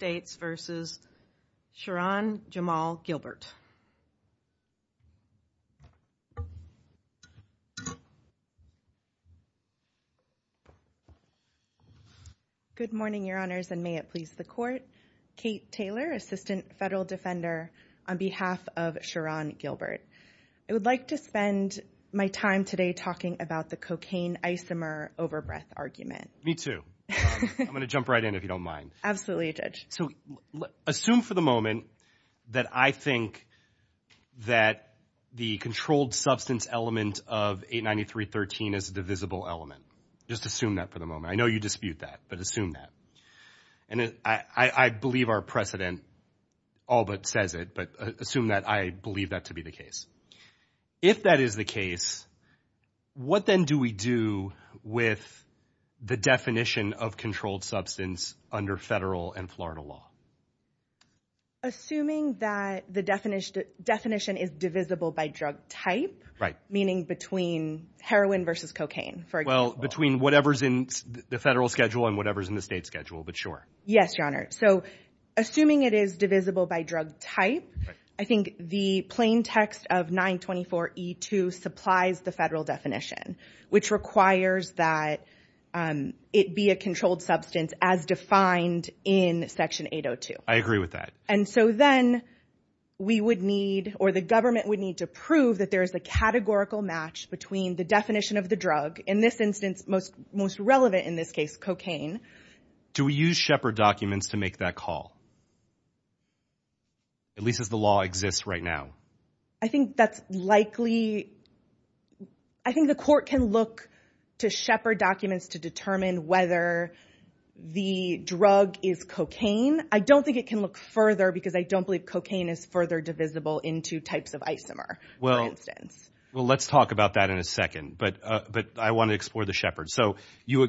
Good morning, Your Honors, and may it please the Court. Kate Taylor, Assistant Federal Defender on behalf of Shirahn Gilbert. I would like to spend my time today talking about the cocaine isomer overbreath argument. Me too. I'm going to jump right in if you don't mind. Absolutely, Judge. Assume for the moment that I think that the controlled substance element of 893.13 is a divisible element. Just assume that for the moment. I know you dispute that, but assume that. I believe our precedent all but says it, but assume that I believe that to be the case. If that is the case, what then do we do with the definition of controlled substance under federal and Florida law? Assuming that the definition is divisible by drug type, meaning between heroin versus cocaine, for example. Between whatever's in the federal schedule and whatever's in the state schedule, but sure. Yes, Your Honor. Assuming it is divisible by drug type, I think the plain text of 924E2 supplies the federal definition, which requires that it be a controlled substance as defined in Section 802. I agree with that. And so then we would need or the government would need to prove that there is a categorical match between the definition of the drug in this instance, most most relevant in this case, cocaine. Do we use Shepherd documents to make that call? At least as the law exists right now, I think that's likely. I think the court can look to Shepherd documents to determine whether the drug is cocaine. I don't think it can look further because I don't believe cocaine is further divisible into types of isomer. Well, well, let's talk about that in a second. But but I want to explore the Shepherd. So you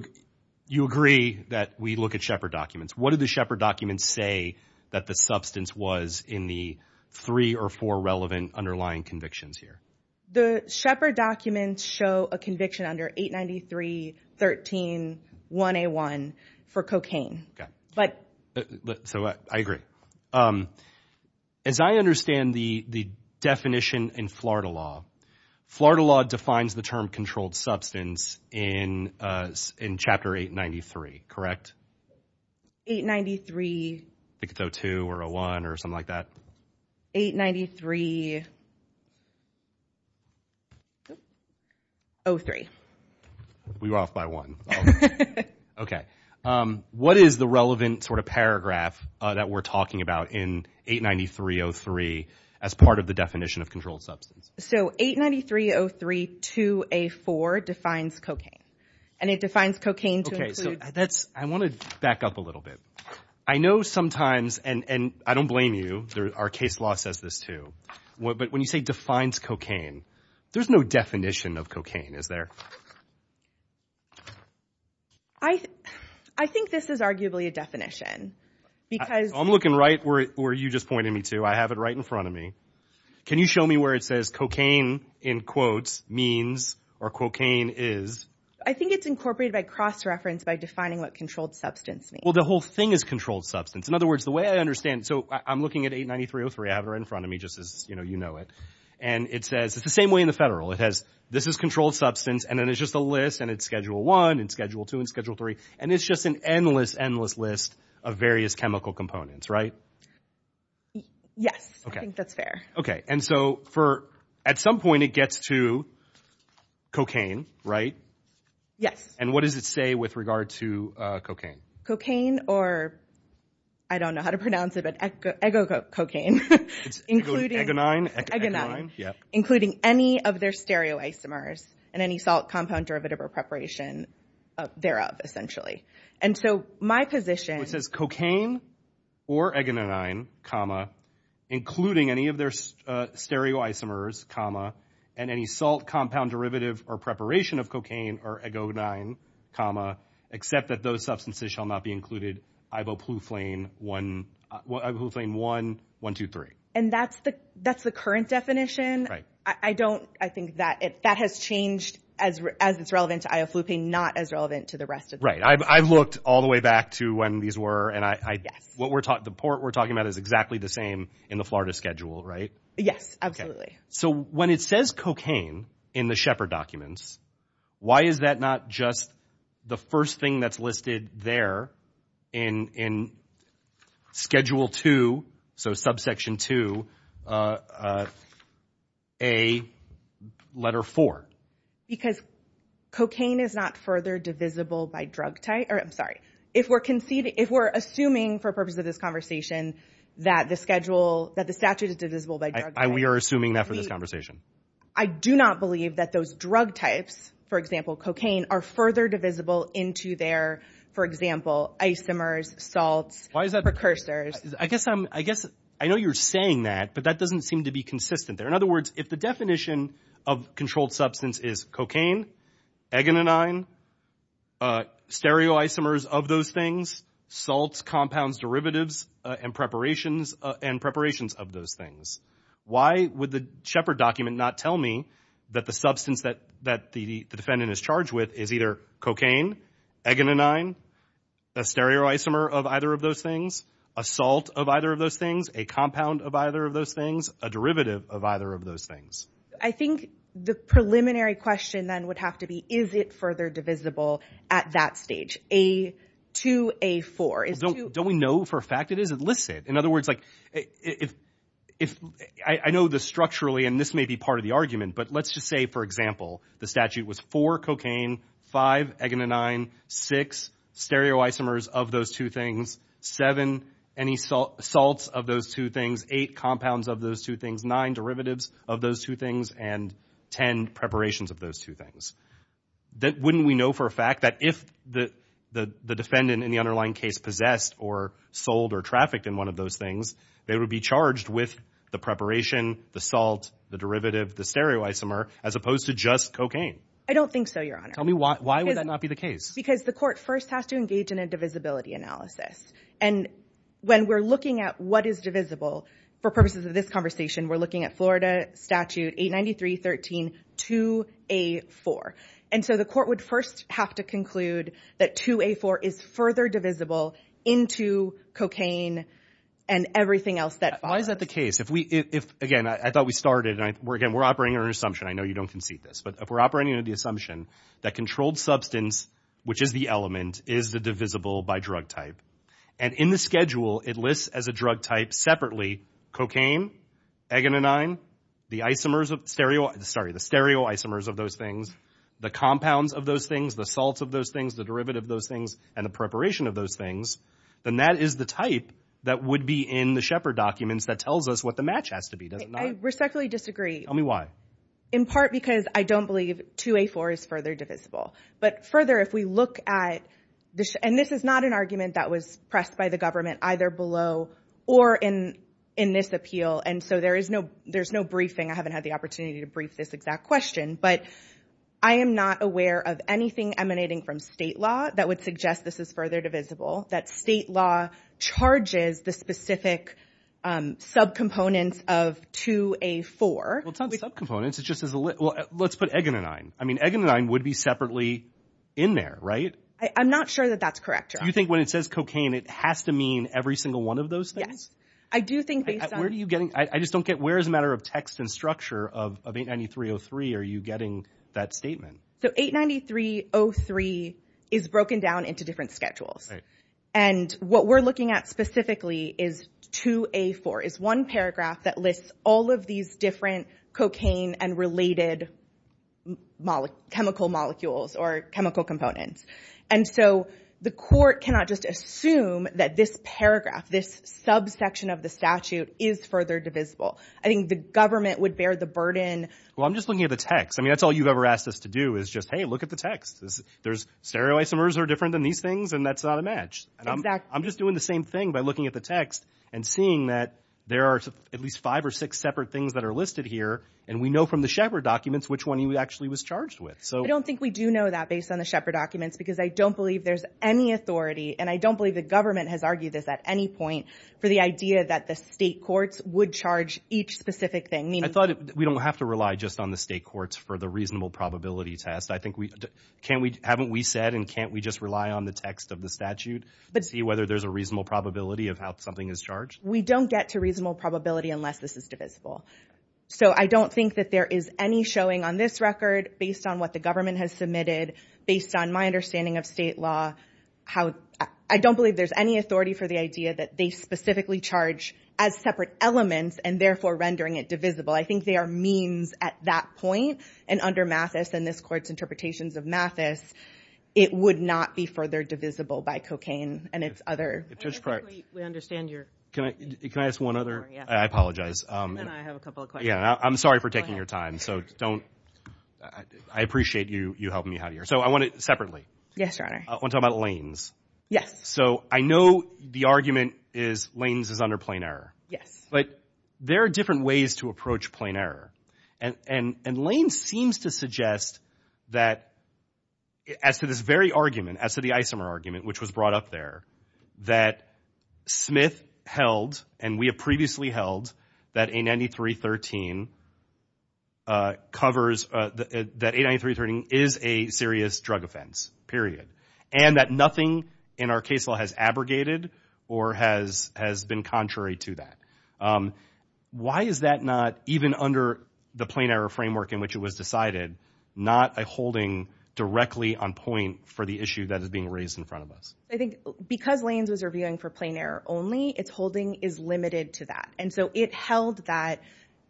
agree that we look at Shepherd documents. What did the Shepherd documents say that the substance was in the three or four relevant underlying convictions here? The Shepherd documents show a conviction under 893.13.1A1 for cocaine. But so I agree. As I understand the definition in Florida law, Florida law defines the term controlled substance in in Chapter 893, correct? 893.2 or a one or something like that. 893.03. We were off by one. Okay. What is the relevant sort of paragraph that we're talking about in 893.03 as part of the definition of controlled substance? So 893.03.2A4 defines cocaine and it defines cocaine. So that's I want to back up a little bit. I know sometimes and I don't blame you. There are case law says this too. But when you say defines cocaine, there's no definition of cocaine, is there? I think this is arguably a definition because I'm looking right where you just pointed me to. I have it right in front of me. Can you show me where it says cocaine in quotes means or cocaine is? I think it's incorporated by cross-reference by defining what controlled substance means. Well, the whole thing is controlled substance. In other words, the way I understand. So I'm looking at 893.03. I have it right in front of me just as you know it. And it says it's the same way in federal. It has this is controlled substance. And then it's just a list and it's schedule one and schedule two and schedule three. And it's just an endless, endless list of various chemical components, right? Yes, I think that's fair. Okay. And so for at some point it gets to cocaine, right? Yes. And what does it say with regard to cocaine? Cocaine or I don't know how to pronounce it, but egococaine, including any of their stereoisomers and any salt compound derivative or preparation thereof, essentially. And so my position... It says cocaine or egonine, comma, including any of their stereoisomers, comma, and any salt compound derivative or preparation of cocaine or egonine, comma, except that those substances shall not be included, ibuprofen 1, 1, 2, 3. And that's the current definition? Right. I don't... I think that it that has changed as it's relevant to ioflupine, not as relevant to the rest of... Right. I've looked all the way back to when these were and I... Yes. What we're talking... The port we're talking about is exactly the same in the Florida schedule, right? Yes, absolutely. So when it says cocaine in the Shepard documents, why is that not just the first thing that's listed there in in schedule 2, so subsection 2, a letter 4? Because cocaine is not further divisible by drug type... I'm sorry. If we're conceding... If we're assuming for purposes of this conversation that the schedule, that the statute is divisible by drug type... We are assuming that for this conversation. I do not believe that those drug types, for example, cocaine, are further divisible into their, for example, isomers, salts, precursors. I guess I'm... I guess I know you're saying that, but that doesn't seem to be consistent there. In other words, if the definition of controlled substance is cocaine, agononine, stereoisomers of those things, salts, compounds, derivatives, and preparations of those things, why would the Shepard document not tell me that the substance that the defendant is charged with is either cocaine, agononine, a stereoisomer of either of those things, a salt of either of those things, a compound of either of those things, a derivative of either of those things? I think the preliminary question then would have to be, is it further divisible at that stage, A2, A4? Don't we know for a fact it is? It lists it. In other words, like, I know this structurally, and this may be part of the argument, but let's just say, for example, the statute was four, cocaine, five, agononine, six, stereoisomers of those two things, seven, any salts of those two things, eight, compounds of those two things, nine, derivatives of those two things, and ten, preparations of those two things. Wouldn't we know for a fact that if the defendant in the underlying case possessed or sold or trafficked in one of those things, they would be charged with the preparation, the salt, the derivative, the stereoisomer, as opposed to just cocaine? I don't think so, Your Honor. Tell me why would that not be the case? Because the court first has to engage in a divisibility analysis. And when we're looking at what is divisible, for purposes of this conversation, we're looking at Florida Statute 893.13, 2A4. And so the court would first have to conclude that 2A4 is further divisible into cocaine and everything else that follows. Why is that the case? Again, I thought we started, and again, we're operating under assumption, I know you don't concede this, but if we're operating under the assumption that controlled substance, which is the element, is the divisible by drug type, and in the schedule it lists as a drug type separately, cocaine, eganonine, the stereoisomers of those things, the compounds of those things, the salts of those things, the derivative of those things, and the preparation of those things, then that is the type that would be in the Shepherd documents that tells us what the match has to be, does it not? I respectfully disagree. Tell me why. In part because I don't believe 2A4 is further divisible. But further, if we look at, and this is not an argument that was pressed by the government either below or in this appeal, and so there's no briefing, I haven't had the opportunity to brief this exact question, but I am not aware of anything emanating from state law that would suggest this is further divisible, that state law charges the specific subcomponents of 2A4. Well, it's not subcomponents, it's just, well, let's put eganonine. I mean, eganonine would be separately in there, right? I'm not sure that that's correct. Do you think when it says cocaine, it has to mean every single one of those things? Yes. I do think based on... Where do you get, I just don't get, where as a matter of text and structure of 893.03 are you getting that statement? So 893.03 is broken down into different schedules. And what we're looking at specifically is 2A4, is one paragraph that lists all of these different cocaine and related chemical molecules or chemical components. And so the court cannot just assume that this paragraph, this subsection of the statute is further divisible. I think the government would bear the burden. Well, I'm just looking at the text. I mean, that's all you've ever asked us to do is just, hey, look at the text. Stereoisomers are different than these things and that's not a match. I'm just doing the same thing by looking at the text and seeing that there are at least five or six separate things that are listed here. And we know from the Shepard documents, which one he actually was charged with. So I don't think we do know that based on the Shepard documents, because I don't believe there's any authority. And I don't believe the government has argued this at any point for the idea that the state courts would charge each specific thing. I thought we don't have to rely just on the state courts for the reasonable probability test. Can't we, haven't we said, and can't we just rely on the text of the statute but see whether there's a reasonable probability of how something is charged? We don't get to reasonable probability unless this is divisible. So I don't think that there is any showing on this record based on what the government has submitted. Based on my understanding of state law, I don't believe there's any authority for the idea that they specifically charge as separate elements and therefore rendering it divisible. I think they are means at that point. And under Mathis and this court's interpretations of Mathis, it would not be further divisible by cocaine and its other... I don't think we understand your... Can I ask one other? I apologize. And I have a couple of questions. Yeah, I'm sorry for taking your time. So don't, I appreciate you helping me out here. So I want it separately. Yes, Your Honor. I want to talk about lanes. Yes. So I know the argument is lanes is under plain error. Yes. But there are different ways to approach plain error. And lanes seems to suggest that as to this very argument, as to the Isomer argument, which was brought up there, that Smith held, and we have previously held, that 893.13 covers, that 893.13 is a serious drug offense, period. And that nothing in our case law has abrogated or has been contrary to that. Um, why is that not, even under the plain error framework in which it was decided, not a holding directly on point for the issue that is being raised in front of us? I think because lanes was reviewing for plain error only, its holding is limited to that. And so it held that,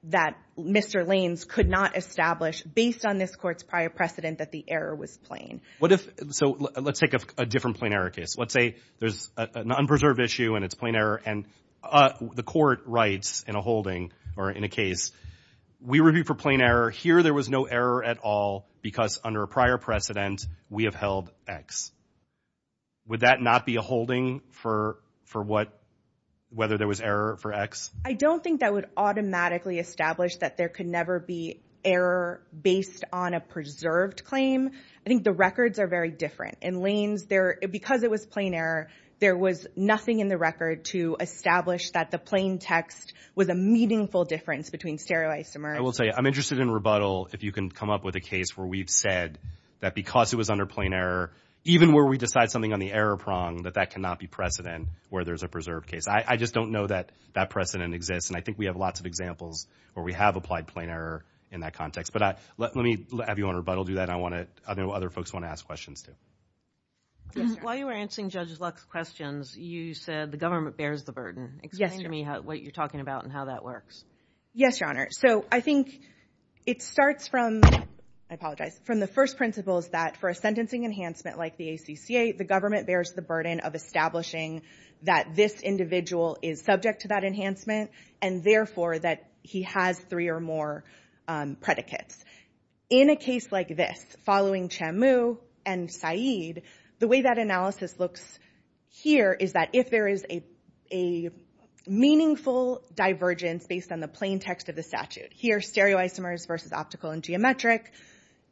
that Mr. Lanes could not establish, based on this court's prior precedent, that the error was plain. What if, so let's take a different plain error case. Let's say there's an unpreserved issue and it's plain error, and the court writes in a holding, or in a case, we review for plain error, here there was no error at all, because under a prior precedent, we have held X. Would that not be a holding for what, whether there was error for X? I don't think that would automatically establish that there could never be error based on a preserved claim. I think the records are very different. In lanes there, because it was plain error, there was nothing in the record to establish that the plain text was a meaningful difference between sterilized and merged. I will say, I'm interested in rebuttal if you can come up with a case where we've said that because it was under plain error, even where we decide something on the error prong, that that cannot be precedent where there's a preserved case. I just don't know that that precedent exists. And I think we have lots of examples where we have applied plain error in that context. But let me have you on rebuttal do that. I want to, I know other folks want to ask questions too. Yes, Your Honor. While you were answering Judge Lux's questions, you said the government bears the burden. Explain to me what you're talking about and how that works. Yes, Your Honor. So I think it starts from, I apologize, from the first principles that for a sentencing enhancement like the ACCA, the government bears the burden of establishing that this individual is subject to that enhancement and therefore that he has three or more predicates. In a case like this, following Chamu and Said, the way that analysis looks here is that if there is a meaningful divergence based on the plain text of the statute, here stereoisomers versus optical and geometric,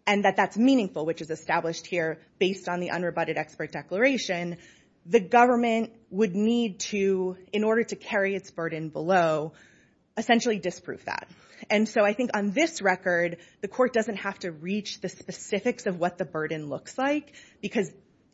and that that's meaningful, which is established here based on the unrebutted expert declaration, the government would need to, in order to carry its burden below, essentially disprove that. And so I think on this record, the court doesn't have to reach the specifics of what the burden looks like, because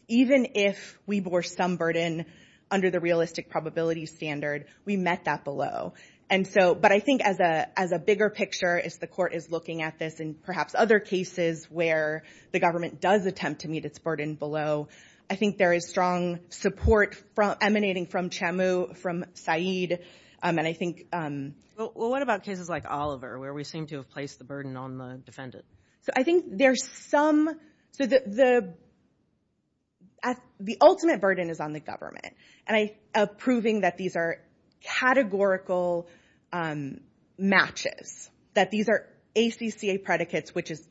even if we bore some burden under the realistic probability standard, we met that below. And so, but I think as a bigger picture, as the court is looking at this and perhaps other cases where the government does attempt to meet its burden below, I think there is strong support emanating from Chamu, from Said, and I think... Well, what about cases like Oliver, where we seem to have placed the burden on the defendant? So I think there's some... The ultimate burden is on the government, and proving that these are categorical matches, that these are ACCA predicates, which is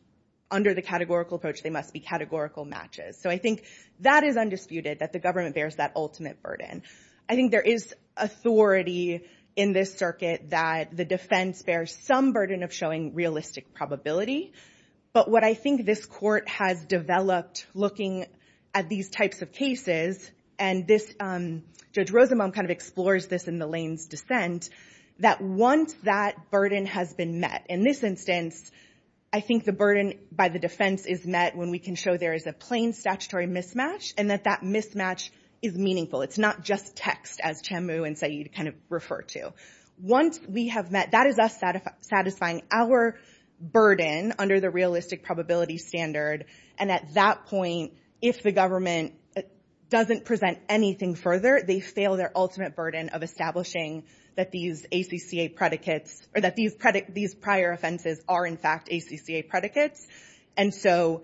under the categorical approach, they must be categorical matches. So I think that is undisputed, that the government bears that ultimate burden. I think there is authority in this circuit that the defense bears some burden of showing realistic probability, but what I think this court has developed looking at these types of cases, and Judge Rosenbaum kind of explores this in the Lane's dissent, that once that burden has been met, in this instance, I think the burden by the defense is met when we can show there is a plain statutory mismatch, and that that mismatch is meaningful. It's not just text, as Chamu and Said kind of refer to. Once we have met, that is us satisfying our burden under the realistic probability standard, and at that point, if the government doesn't present anything further, they fail their ultimate burden of establishing that these ACCA predicates, or that these prior offenses are in fact ACCA predicates. And so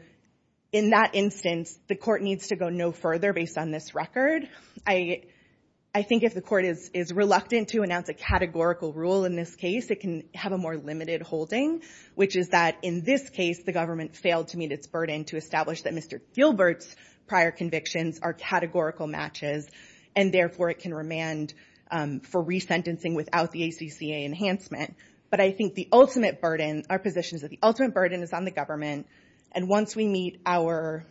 in that instance, the court needs to go no further based on this record. I think if the court is reluctant to announce a categorical rule in this case, it can have a more limited holding, which is that in this case, the government failed to meet its burden to establish that Mr. Gilbert's prior convictions are categorical matches, and therefore it can remand for resentencing without the ACCA enhancement, but I think the ultimate burden, our position is that the ultimate burden is on the government, and once we meet our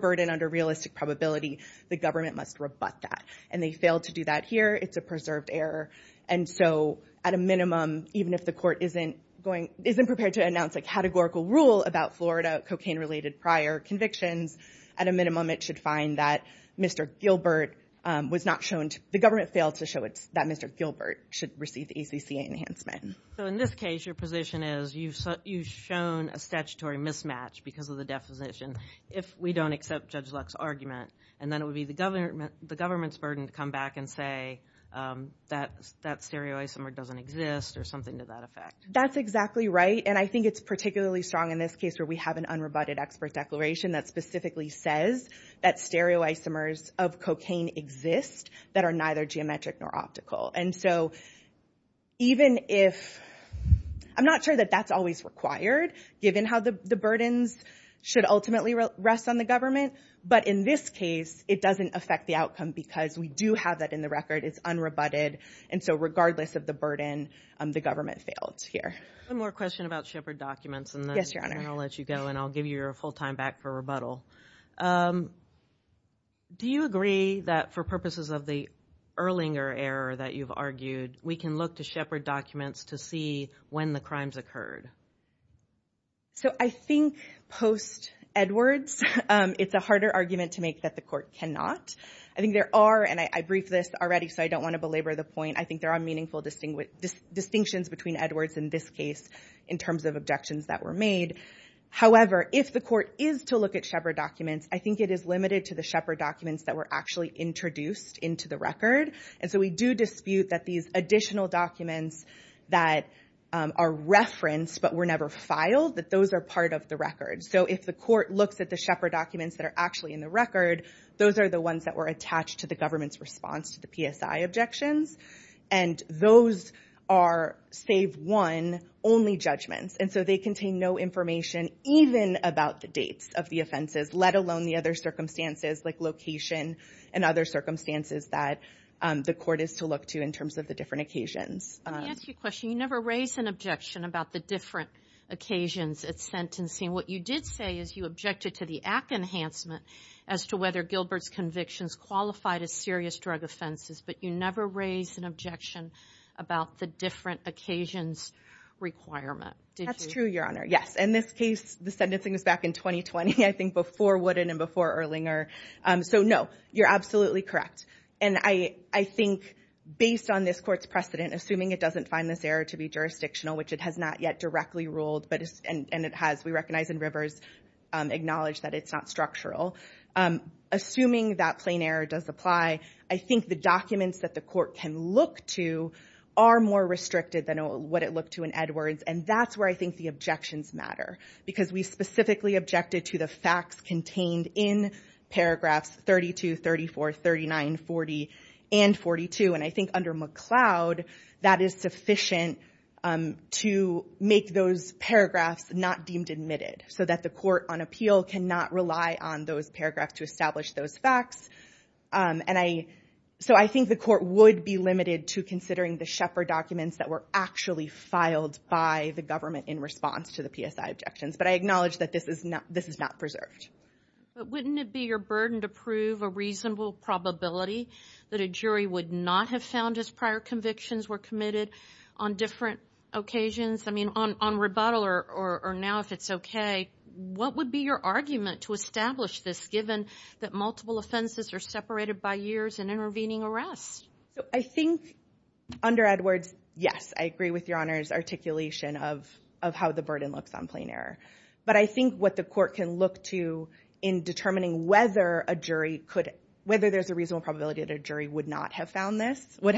burden under realistic probability, the government must rebut that, and they failed to do that here, it's a preserved error, and so at a minimum, even if the court isn't prepared to announce a categorical rule about Florida cocaine-related prior convictions, at a minimum, it should find that Mr. Gilbert was not shown, the government failed to show that Mr. Gilbert should receive the ACCA enhancement. So in this case, your position is you've shown a statutory mismatch because of the definition if we don't accept Judge Luck's argument, and then it would be the government's burden to come back and say that stereoisomer doesn't exist, or something to that effect. That's exactly right, and I think it's particularly strong in this case where we have an unrebutted expert declaration that specifically says that stereoisomers of cocaine exist that are neither geometric nor optical, and so even if, I'm not sure that that's always required, given how the burdens should ultimately rest on the government, but in this case, it doesn't affect the outcome because we do have that in the record, it's unrebutted, and so regardless of the burden, the government failed here. One more question about Shepard documents, and then I'll let you go, and I'll give you your full time back for rebuttal. Do you agree that for purposes of the Erlinger error that you've argued, we can look to Shepard documents to see when the crimes occurred? So I think post Edwards, it's a harder argument to make that the court cannot. I think there are, and I briefed this already, so I don't want to belabor the point, I think there are meaningful distinctions between Edwards in this case in terms of objections that were made. However, if the court is to look at Shepard documents, I think it is limited to the Shepard documents that were actually introduced into the record, and so we do dispute that these additional documents that are referenced but were never filed, that those are part of the record. So if the court looks at the Shepard documents that are actually in the record, those are the ones that were attached to the government's response to the PSI objections, and those are, save one, only judgments. And so they contain no information even about the dates of the offenses, let alone the other circumstances like location and other circumstances that the court is to look to in terms of the different occasions. Let me ask you a question. You never raised an objection about the different occasions at sentencing. What you did say is you objected to the act enhancement as to whether Gilbert's convictions qualified as serious drug offenses, but you never raised an objection about the different occasions requirement. That's true, Your Honor, yes. In this case, the sentencing was back in 2020, I think before Wooden and before Erlinger. So no, you're absolutely correct. And I think based on this court's precedent, assuming it doesn't find this error to be jurisdictional, which it has not yet directly ruled, and it has, we recognize in Rivers, acknowledge that it's not structural. Assuming that plain error does apply, I think the documents that the court can look to are more restricted than what it looked to in Edwards. And that's where I think the objections matter because we specifically objected to the facts contained in paragraphs 32, 34, 39, 40, and 42. And I think under McLeod, that is sufficient to make those paragraphs not deemed admitted so that the court on appeal cannot rely on those paragraphs to establish those facts. And so I think the court would be limited to considering the Shepard documents that were actually filed by the government in response to the PSI objections. But I acknowledge that this is not preserved. But wouldn't it be your burden to prove a reasonable probability that a jury would not have found his prior convictions were committed on different occasions? I mean, on rebuttal or now if it's okay, what would be your argument to establish this given that multiple offenses are separated by years and intervening arrests? So I think under Edwards, yes, I agree with your honor's articulation of how the burden looks on plain error. But I think what the court can look to in determining whether a jury could, whether there's a reasonable probability that a jury would not have found this, would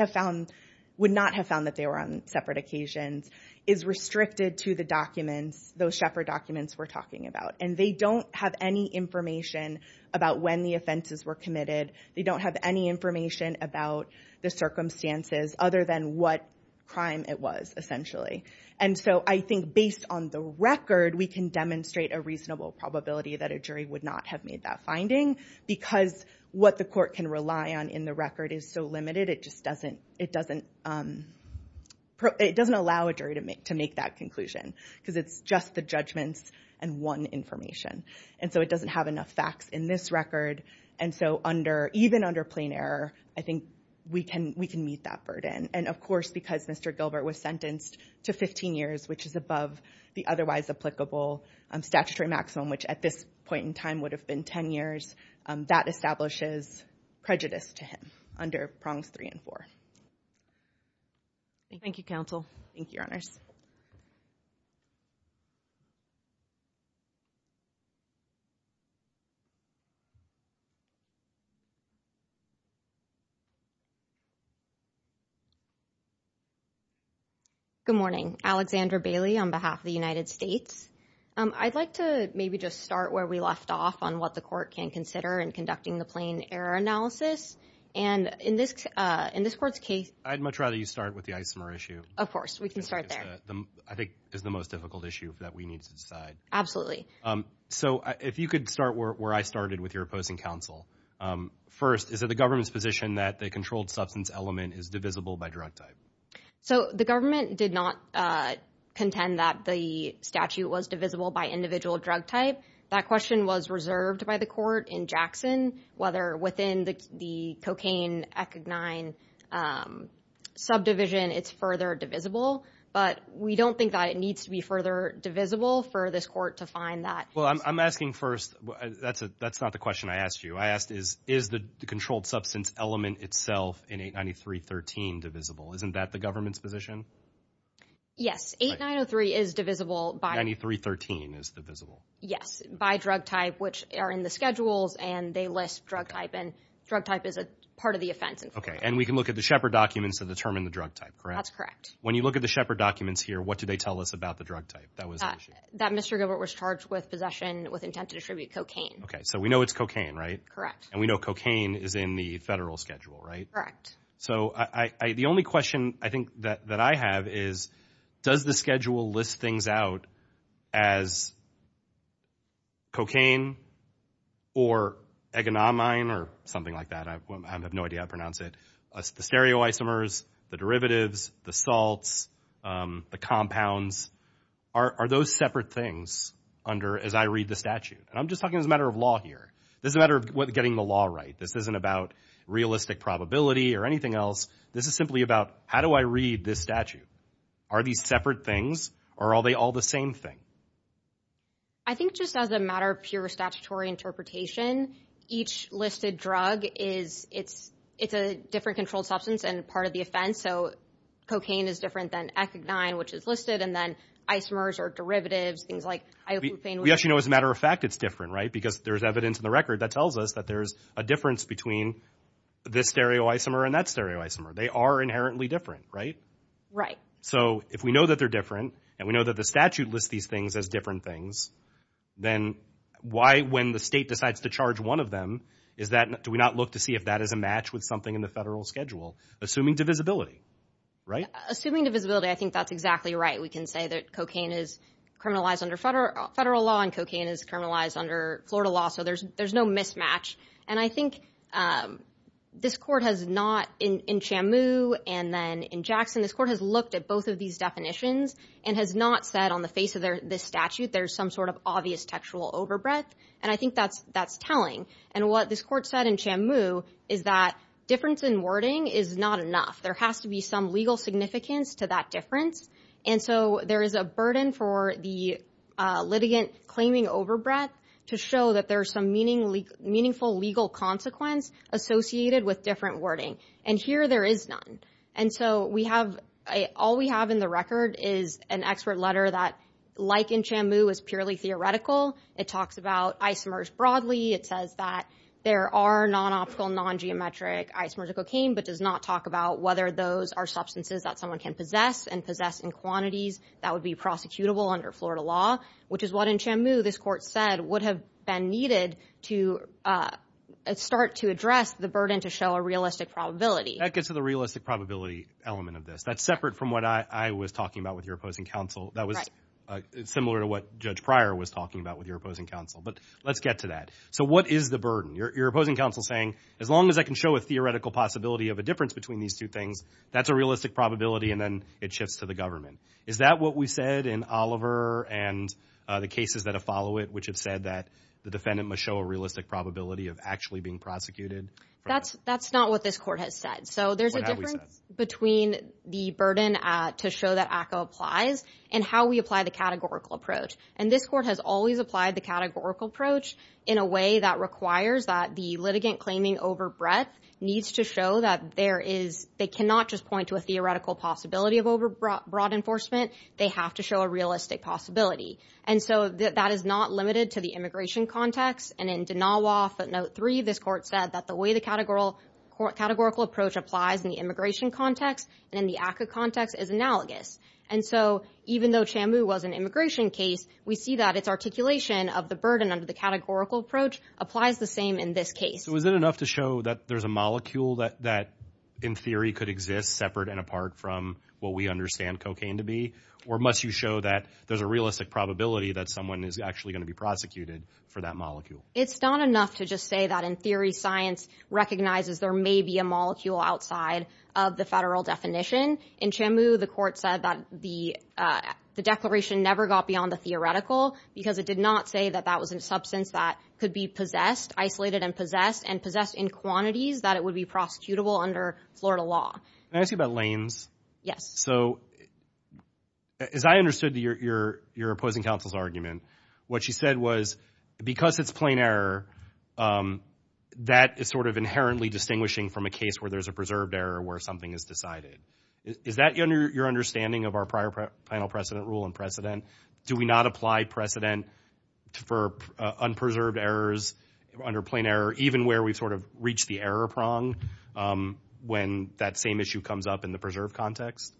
not have found that they were on separate occasions, is restricted to the documents, those Shepard documents we're talking about. And they don't have any information about when the offenses were committed. They don't have any information about the circumstances other than what crime it was, essentially. And so I think based on the record, we can demonstrate a reasonable probability that a jury would not have made that finding because what the court can rely on in the record is so limited. It doesn't allow a jury to make that conclusion because it's just the judgments and one information. And so it doesn't have enough facts in this record. And so even under plain error, I think we can meet that burden. And of course, because Mr. Gilbert was sentenced to 15 years, which is above the otherwise applicable statutory maximum, which at this point in time would have been 10 years, that establishes prejudice to him under prongs three and four. Thank you, counsel. Thank you, your honors. Good morning. Alexandra Bailey on behalf of the United States. I'd like to maybe just start where we left off on what the court can consider in conducting the plain error analysis. And in this court's case... I'd much rather you start with the isomer issue. Of course, we can start there. I think it's the most difficult issue that we need to decide. So if you could start where I started with your opposing counsel. First, is it the government's position that the controlled substance element is divisible by drug type? So the government did not contend that the statute was divisible by individual drug type. That question was reserved by the court in Jackson, whether within the cocaine ecognine subdivision, it's further divisible. But we don't think that it needs to be further divisible for this court to find that. Well, I'm asking first... That's not the question I asked you. I asked is the controlled substance element itself in 893.13 divisible? Isn't that the government's position? Yes, 8903 is divisible by... 893.13 is divisible. Yes, by drug type, which are in the schedules and they list drug type. And drug type is a part of the offense. Okay, and we can look at the Shepard documents to determine the drug type, correct? That's correct. When you look at the Shepard documents here, what do they tell us about the drug type? That was the issue. That Mr. Gilbert was charged with possession with intent to distribute cocaine. Okay, so we know it's cocaine, right? Correct. And we know cocaine is in the federal schedule, right? Correct. So the only question I think that I have is, does the schedule list things out as cocaine or agonamine or something like that? I have no idea how to pronounce it. The stereoisomers, the derivatives, the salts, the compounds, are those separate things as I read the statute? And I'm just talking as a matter of law here. This is a matter of getting the law right. This isn't about realistic probability or anything else. This is simply about how do I read this statute? Are these separate things or are they all the same thing? I think just as a matter of pure statutory interpretation, each listed drug, it's a different controlled substance and part of the offense. So cocaine is different than ecognine, which is listed, and then isomers are derivatives, things like isopropane. Yes, you know, as a matter of fact, it's different, right? Because there's evidence in the record that tells us that there's a difference between this stereoisomer and that stereoisomer. They are inherently different, right? Right. So if we know that they're different and we know that the statute lists these things, as different things, then why, when the state decides to charge one of them, is that, do we not look to see if that is a match with something in the federal schedule? Assuming divisibility, right? Assuming divisibility, I think that's exactly right. We can say that cocaine is criminalized under federal law and cocaine is criminalized under Florida law. So there's no mismatch. And I think this court has not in Chamu and then in Jackson, this court has looked at both of these definitions and has not said on the face of this statute, there's some sort of obvious textual overbreath. And I think that's telling. And what this court said in Chamu is that difference in wording is not enough. There has to be some legal significance to that difference. And so there is a burden for the litigant claiming overbreath to show that there's some meaningful legal consequence associated with different wording. And here there is none. And so all we have in the record is an expert letter that like in Chamu is purely theoretical. It talks about isomers broadly. It says that there are non-optical, non-geometric isomers of cocaine, but does not talk about whether those are substances that someone can possess and possess in quantities that would be prosecutable under Florida law, which is what in Chamu, this court said would have been needed to start to address the burden to show a realistic probability. That gets to the realistic probability element of this. That's separate from what I was talking about with your opposing counsel. That was similar to what Judge Pryor was talking about with your opposing counsel. But let's get to that. So what is the burden? Your opposing counsel saying, as long as I can show a theoretical possibility of a difference between these two things, that's a realistic probability. And then it shifts to the government. Is that what we said in Oliver and the cases that have followed it, which have said that the defendant must show a realistic probability of actually being prosecuted? That's not what this court has said. So there's a difference between the burden to show that ACCA applies and how we apply the categorical approach. And this court has always applied the categorical approach in a way that requires that the litigant claiming over breadth needs to show that there is, they cannot just point to a theoretical possibility of over broad enforcement. They have to show a realistic possibility. And so that is not limited to the immigration context. And in Danawa footnote three, this court said that the way the categorical approach applies in the immigration context and in the ACCA context is analogous. And so even though Chambu was an immigration case, we see that it's articulation of the burden under the categorical approach applies the same in this case. So is it enough to show that there's a molecule that in theory could exist separate and apart from what we understand cocaine to be? Or must you show that there's a realistic probability that someone is actually going to be prosecuted for that molecule? It's not enough to just say that in theory, science recognizes there may be a molecule outside of the federal definition. In Chambu, the court said that the declaration never got beyond the theoretical because it did not say that that was a substance that could be possessed, isolated and possessed and possessed in quantities that it would be prosecutable under Florida law. Can I ask you about lanes? Yes. So as I understood your opposing counsel's argument, what she said was because it's plain error, that is sort of inherently distinguishing from a case where there's a preserved error where something is decided. Is that your understanding of our prior final precedent rule and precedent? Do we not apply precedent for unpreserved errors under plain error, even where we've sort of reached the error prong when that same issue comes up in the preserved context?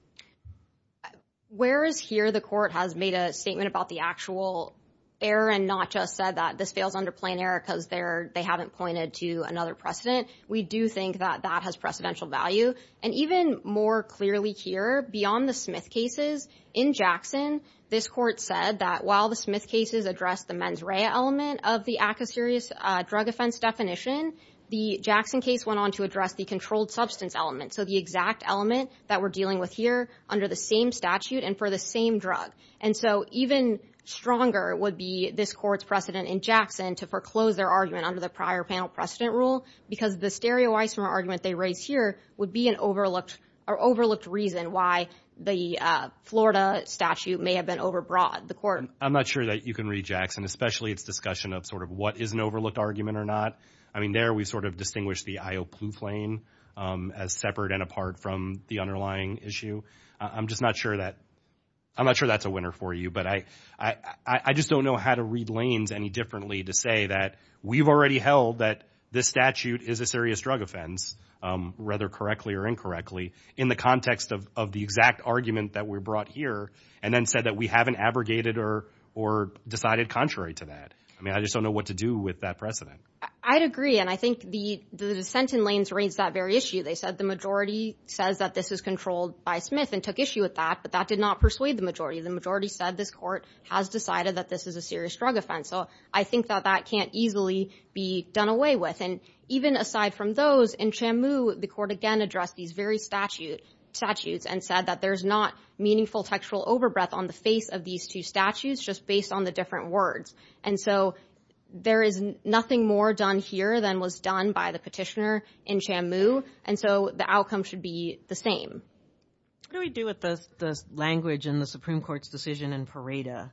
Whereas here the court has made a statement about the actual error and not just said that this fails under plain error they haven't pointed to another precedent. We do think that that has precedential value. And even more clearly here, beyond the Smith cases in Jackson, this court said that while the Smith cases addressed the mens rea element of the accuserious drug offense definition, the Jackson case went on to address the controlled substance element. So the exact element that we're dealing with here under the same statute and for the same drug. And so even stronger would be this court's precedent in Jackson to foreclose their argument under the prior panel precedent rule because the stereoisomer argument they raised here would be an overlooked or overlooked reason why the Florida statute may have been overbroad. I'm not sure that you can read Jackson, especially its discussion of sort of what is an overlooked argument or not. I mean, there we sort of distinguish the IO Plouffe lane as separate and apart from the underlying issue. I'm just not sure that I'm not sure that's a winner for you, but I just don't know how to read lanes any differently to say that we've already held that this statute is a serious drug offense, rather correctly or incorrectly in the context of the exact argument that we brought here and then said that we haven't abrogated or decided contrary to that. I mean, I just don't know what to do with that precedent. I'd agree. And I think the dissent in lanes raised that very issue. They said the majority says that this is controlled by Smith and took issue with that, but that did not persuade the majority. The majority said this court has decided that this is a serious drug offense. I think that that can't easily be done away with. And even aside from those in Chamu, the court again addressed these very statutes and said that there's not meaningful textual overbreath on the face of these two statutes, just based on the different words. And so there is nothing more done here than was done by the petitioner in Chamu. And so the outcome should be the same. What do we do with this language in the Supreme Court's decision in Pareto,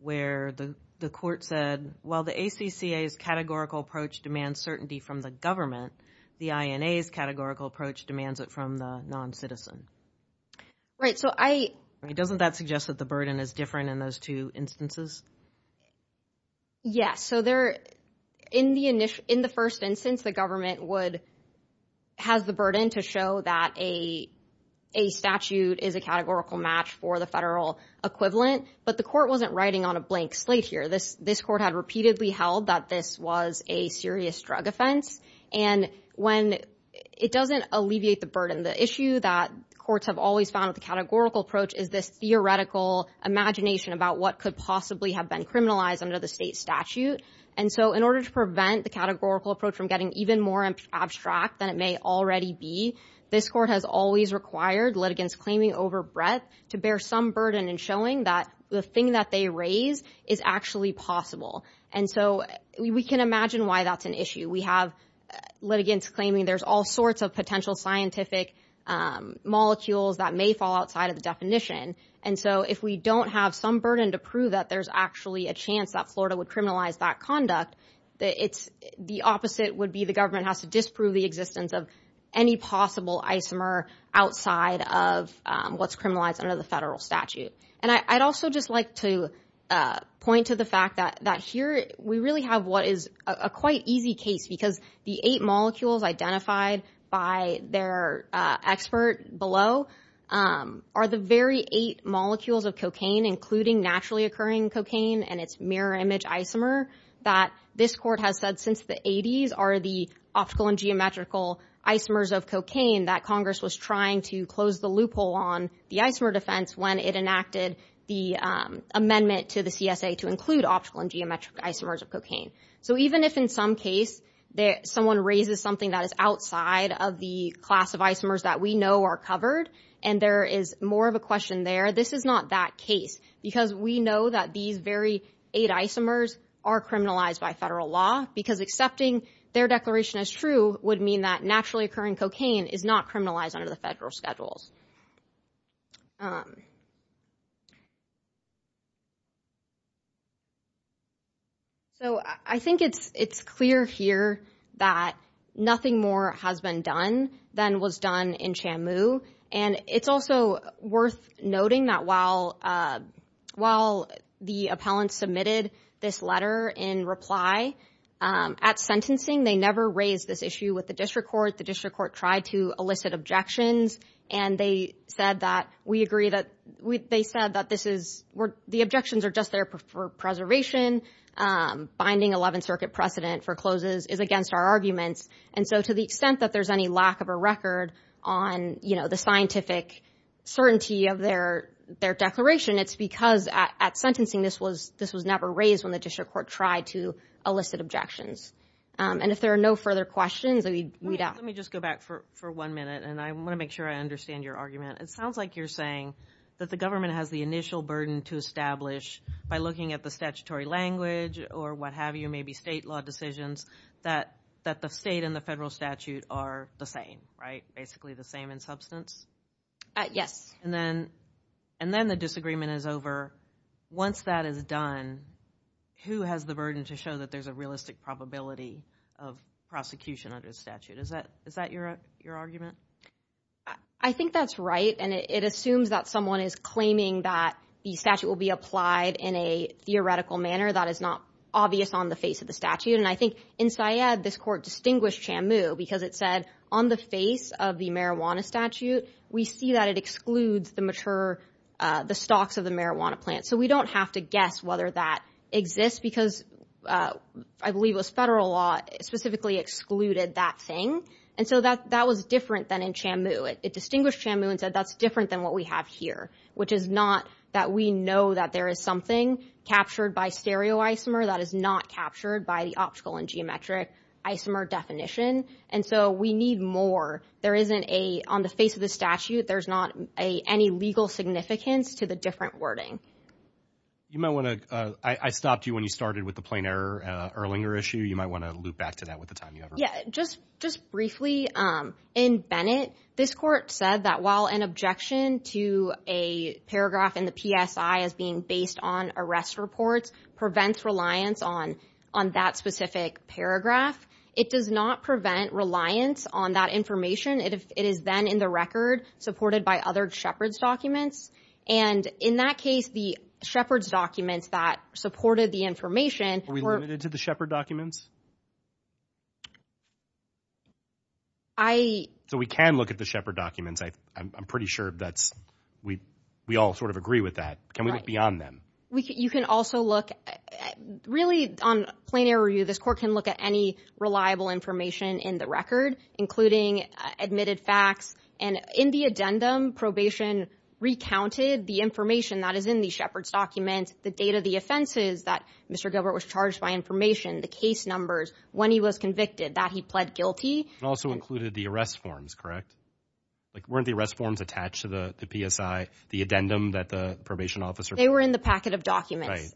where the court said, well, the ACCA's categorical approach demands certainty from the government. The INA's categorical approach demands it from the non-citizen. Right, so I... Doesn't that suggest that the burden is different in those two instances? Yes. So in the first instance, the government has the burden to show that a statute is a categorical match for the federal equivalent. But the court wasn't writing on a blank slate here. This court had repeatedly held that this was a serious drug offense. And it doesn't alleviate the burden. The issue that courts have always found with the categorical approach is this theoretical imagination about what could possibly have been criminalized under the state statute. And so in order to prevent the categorical approach from getting even more abstract than it may already be, this court has always required litigants claiming overbreath to bear some burden in showing that the thing that they raise is actually possible. And so we can imagine why that's an issue. We have litigants claiming there's all sorts of potential scientific molecules that may fall outside of the definition. And so if we don't have some burden to prove that there's actually a chance that Florida would criminalize that conduct, the opposite would be the government has to disprove the existence of any possible isomer outside of what's criminalized under the federal statute. And I'd also just like to point to the fact that here we really have what is a quite easy case because the eight molecules identified by their expert below are the very eight molecules of cocaine, including naturally occurring cocaine and its mirror image isomer that this court has said since the 80s are the optical and geometrical isomers of cocaine that Congress was trying to close the loophole on the isomer defense when it enacted the amendment to the CSA to include optical and geometric isomers of cocaine. So even if in some case someone raises something that is outside of the class of isomers that we know are covered and there is more of a question there, this is not that case because we know that these very eight isomers are criminalized by federal law because accepting their declaration as true would mean that naturally occurring cocaine is not criminalized under the federal schedules. So I think it's clear here that nothing more has been done than was done in Chamu. And it's also worth noting that while the appellant submitted this letter in reply at sentencing, they never raised this issue with the district court. The district court tried to elicit objections and they said that the objections are just there for preservation. Binding 11th Circuit precedent for closes is against our arguments. And so to the extent that there's any lack of a record on the scientific certainty of their declaration, it's because at sentencing, this was never raised when the district court tried to elicit objections. And if there are no further questions, let me just go back for one minute. And I want to make sure I understand your argument. It sounds like you're saying that the government has the initial burden to establish by looking at the statutory language or what have you, maybe state law decisions that the state and the federal statute are the same, right? Basically the same in substance. Yes. And then the disagreement is over. Once that is done, who has the burden to show that there's a realistic probability of prosecution under the statute? Is that your argument? I think that's right. And it assumes that someone is claiming that the statute will be applied in a theoretical manner that is not obvious on the face of the statute. And I think in Syed, this court distinguished Chamu because it said on the face of the marijuana statute, we see that it excludes the mature, the stocks of the marijuana plant. So we don't have to guess whether that exists because I believe it was federal law specifically excluded that thing. And so that was different than in Chamu. It distinguished Chamu and said, that's different than what we have here, which is not that we know that there is something captured by stereoisomer that is not captured by the optical and geometric isomer definition. And so we need more. There isn't a, on the face of the statute, there's not any legal significance to the different wording. You might wanna, I stopped you when you started with the plain error Erlinger issue. You might wanna loop back to that with the time you have. Yeah, just briefly in Bennett, this court said that while an objection to a paragraph in the PSI as being based on arrest reports prevents reliance on that specific paragraph, it does not prevent reliance on that information. It is then in the record supported by other Shepard's documents. And in that case, the Shepard's documents that supported the information- Are we limited to the Shepard documents? I- So we can look at the Shepard documents. I'm pretty sure that's, we all sort of agree with that. Can we look beyond them? You can also look, really on plain error review, this court can look at any reliable information in the record, including admitted facts and in the addendum, probation recounted the information that is in the Shepard's documents, the date of the offenses that Mr. Gilbert was charged by information, the case numbers, when he was convicted, that he pled guilty. And also included the arrest forms, correct? Weren't the arrest forms attached to the PSI, the addendum that the probation officer- They were in the packet of documents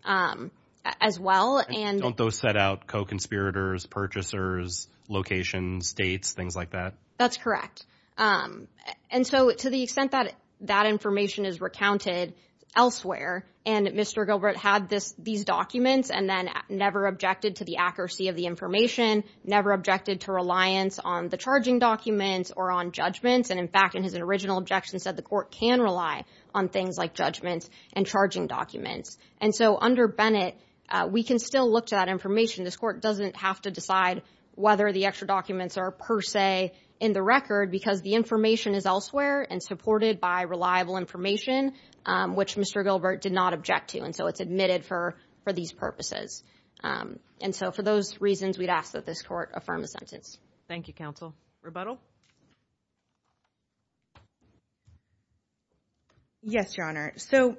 as well. And don't those set out co-conspirators, purchasers, locations, states, things like that? That's correct. And so to the extent that that information is recounted elsewhere, and Mr. Gilbert had these documents and then never objected to the accuracy of the information, never objected to reliance on the charging documents or on judgments. And in fact, in his original objection, said the court can rely on things like judgments and charging documents. And so under Bennett, we can still look to that information. This court doesn't have to decide whether the extra documents are per se in the record because the information is elsewhere and supported by reliable information, which Mr. Gilbert did not object to. And so it's admitted for these purposes. And so for those reasons, we'd ask that this court affirm the sentence. Thank you, counsel. Rebuttal? Yes, Your Honor. So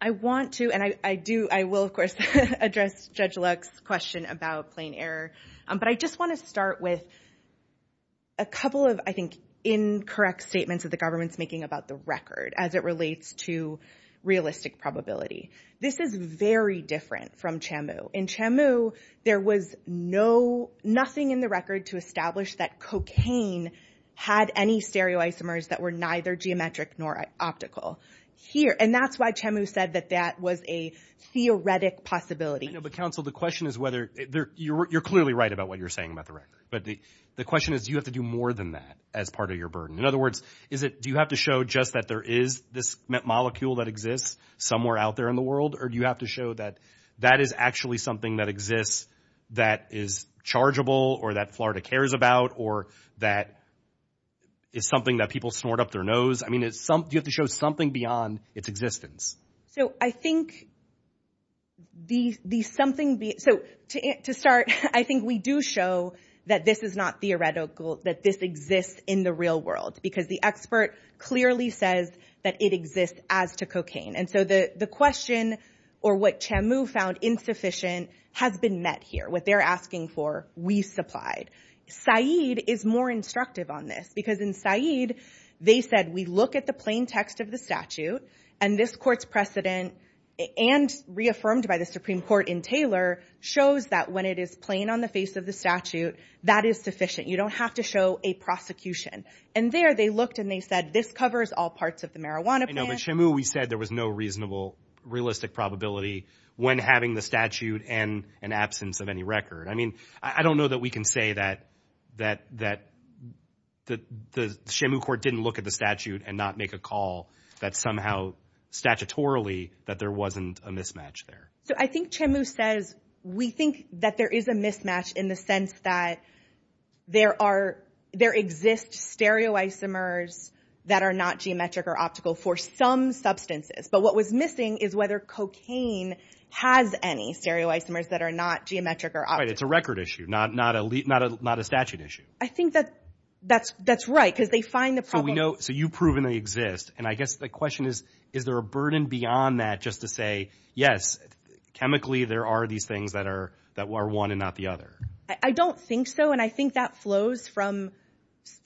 I want to, and I do, I will, of course, address Judge Luck's question about plain error. But I just want to start with a couple of, I think, incorrect statements that the government's making about the record as it relates to realistic probability. This is very different from Chamu. In Chamu, there was no, nothing in the record to establish that cocaine had any stereoisomers that were neither geometric nor optical. Here, and that's why Chamu said that that was a theoretic possibility. I know, but counsel, the question is whether, you're clearly right about what you're saying about the record. But the question is, do you have to do more than that as part of your burden? In other words, do you have to show just that there is this molecule that exists somewhere out there in the world? Or do you have to show that that is actually something that exists that is chargeable or that Florida cares about or that is something that people snort up their nose? I mean, do you have to show something beyond its existence? So I think the something, so to start, I think we do show that this is not theoretical, that this exists in the real world because the expert clearly says that it exists as to cocaine. And so the question or what Chamu found insufficient has been met here. What they're asking for, we supplied. Said is more instructive on this because in Said, they said we look at the plain text of the statute and this court's precedent and reaffirmed by the Supreme Court in Taylor shows that when it is plain on the face of the statute, is sufficient. You don't have to show a prosecution. And there they looked and they said, this covers all parts of the marijuana plan. I know, but Chamu, we said there was no reasonable, realistic probability when having the statute and an absence of any record. I mean, I don't know that we can say that the Chamu court didn't look at the statute and not make a call that somehow statutorily that there wasn't a mismatch there. So I think Chamu says, we think that there is a mismatch in the sense that there are, there exist stereoisomers that are not geometric or optical for some substances. But what was missing is whether cocaine has any stereoisomers that are not geometric or optical. Right, it's a record issue, not a statute issue. I think that's right because they find the problem. So we know, so you've proven they exist. And I guess the question is, is there a burden beyond that just to say, yes, chemically, there are these things that are one and not the other. I don't think so. And I think that flows from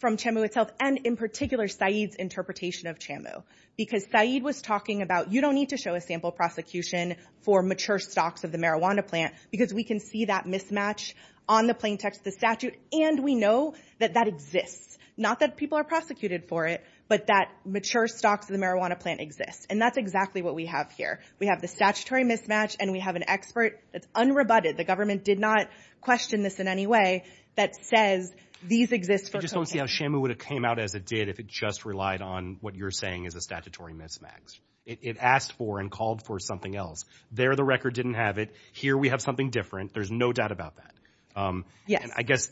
Chamu itself and in particular, Saeed's interpretation of Chamu. Because Saeed was talking about, you don't need to show a sample prosecution for mature stocks of the marijuana plant because we can see that mismatch on the plain text of the statute. And we know that that exists, not that people are prosecuted for it, but that mature stocks of the marijuana plant exists. And that's exactly what we have here. We have the statutory mismatch and we have an expert that's unrebutted. The government did not question this in any way that says these exist for cocaine. I just don't see how Chamu would have came out as it did if it just relied on what you're saying is a statutory mismatch. It asked for and called for something else. There, the record didn't have it. Here, we have something different. There's no doubt about that. And I guess,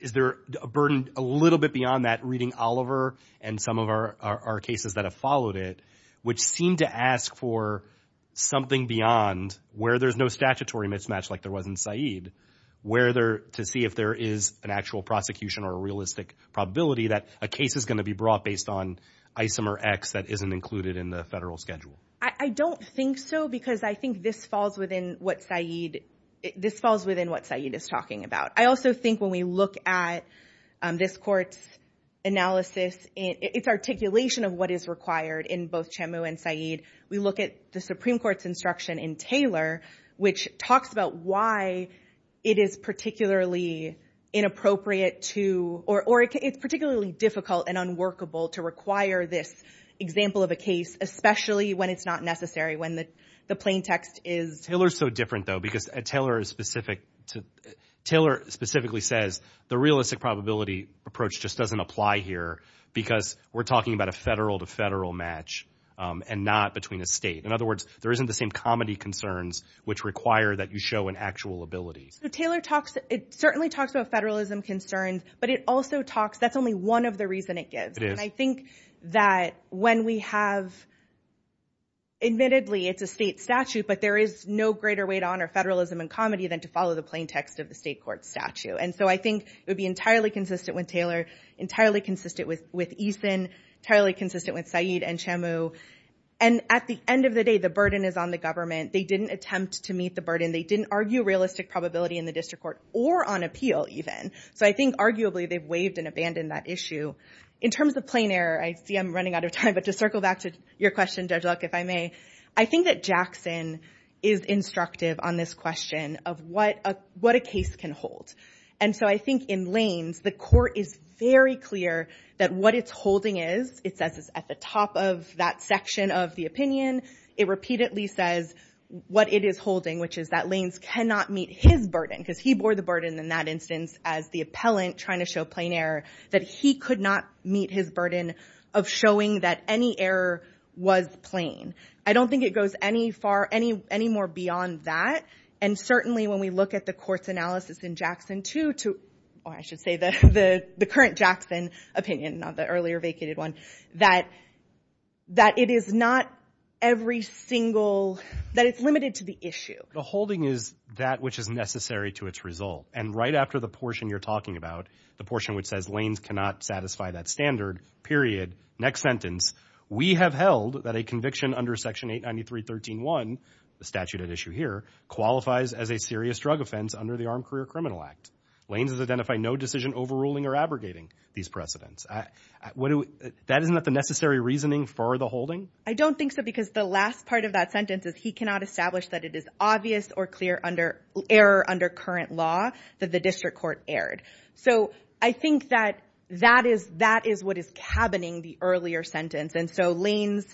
is there a burden a little bit beyond that reading Oliver and some of our cases that have followed it, which seem to ask for something beyond where there's no statutory mismatch like there was in Saeed, where to see if there is an actual prosecution or a realistic probability that a case is going to be brought based on isomer X that isn't included in the federal schedule? I don't think so because I think this falls within what Saeed is talking about. I also think when we look at this court's analysis, its articulation of what is required in both Chamu and Saeed, we look at the Supreme Court's instruction in Taylor, which talks about why it is particularly inappropriate to, or it's particularly difficult and unworkable to require this example of a case, especially when it's not necessary, when the plain text is... Taylor's so different though, because Taylor specifically says the realistic probability approach just doesn't apply here because we're talking about a federal to federal match and not between a state. In other words, there isn't the same comedy concerns which require that you show an actual ability. So Taylor talks, it certainly talks about federalism concerns, but it also talks, that's only one of the reason it gives. And I think that when we have, admittedly, it's a state statute, but there is no greater way to honor federalism and comedy than to follow the plain text of the state court statute. And so I think it would be entirely consistent with Taylor, entirely consistent with Eason, entirely consistent with Said and Chamu. And at the end of the day, the burden is on the government. They didn't attempt to meet the burden. They didn't argue realistic probability in the district court or on appeal even. So I think arguably they've waived and abandoned that issue. In terms of plain error, I see I'm running out of time, but to circle back to your question, Judge Luck, if I may, I think that Jackson is instructive on this question of what a case can hold. And so I think in lanes, the court is very clear that what it's holding is, it says it's at the top of that section of the opinion. It repeatedly says what it is holding, which is that lanes cannot meet his burden because he bore the burden in that instance as the appellant trying to show plain error that he could not meet his burden of showing that any error was plain. I don't think it goes any more beyond that. And certainly when we look at the court's analysis in Jackson too, or I should say the current Jackson opinion, not the earlier vacated one, that it is not every single, that it's limited to the issue. The holding is that which is necessary to its result. And right after the portion you're talking about, the portion which says lanes cannot satisfy that standard, period, next sentence, we have held that a conviction under section 893.13.1, the statute at issue here, qualifies as a serious drug offense under the Armed Career Criminal Act. Lanes has identified no decision overruling or abrogating these precedents. That is not the necessary reasoning for the holding? I don't think so because the last part of that sentence is he cannot establish that it is obvious or clear error under current law that the district court erred. So I think that that is what is cabining the earlier sentence. And so lanes,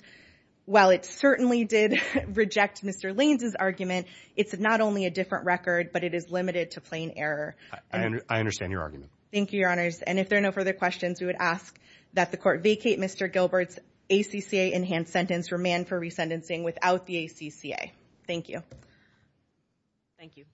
while it certainly did reject Mr. Lanes's argument, it's not only a different record, but it is limited to plain error. I understand your argument. Thank you, Your Honors. And if there are no further questions, we would ask that the court vacate Mr. Gilbert's ACCA enhanced sentence for man for resentencing without the ACCA. Thank you. Thank you.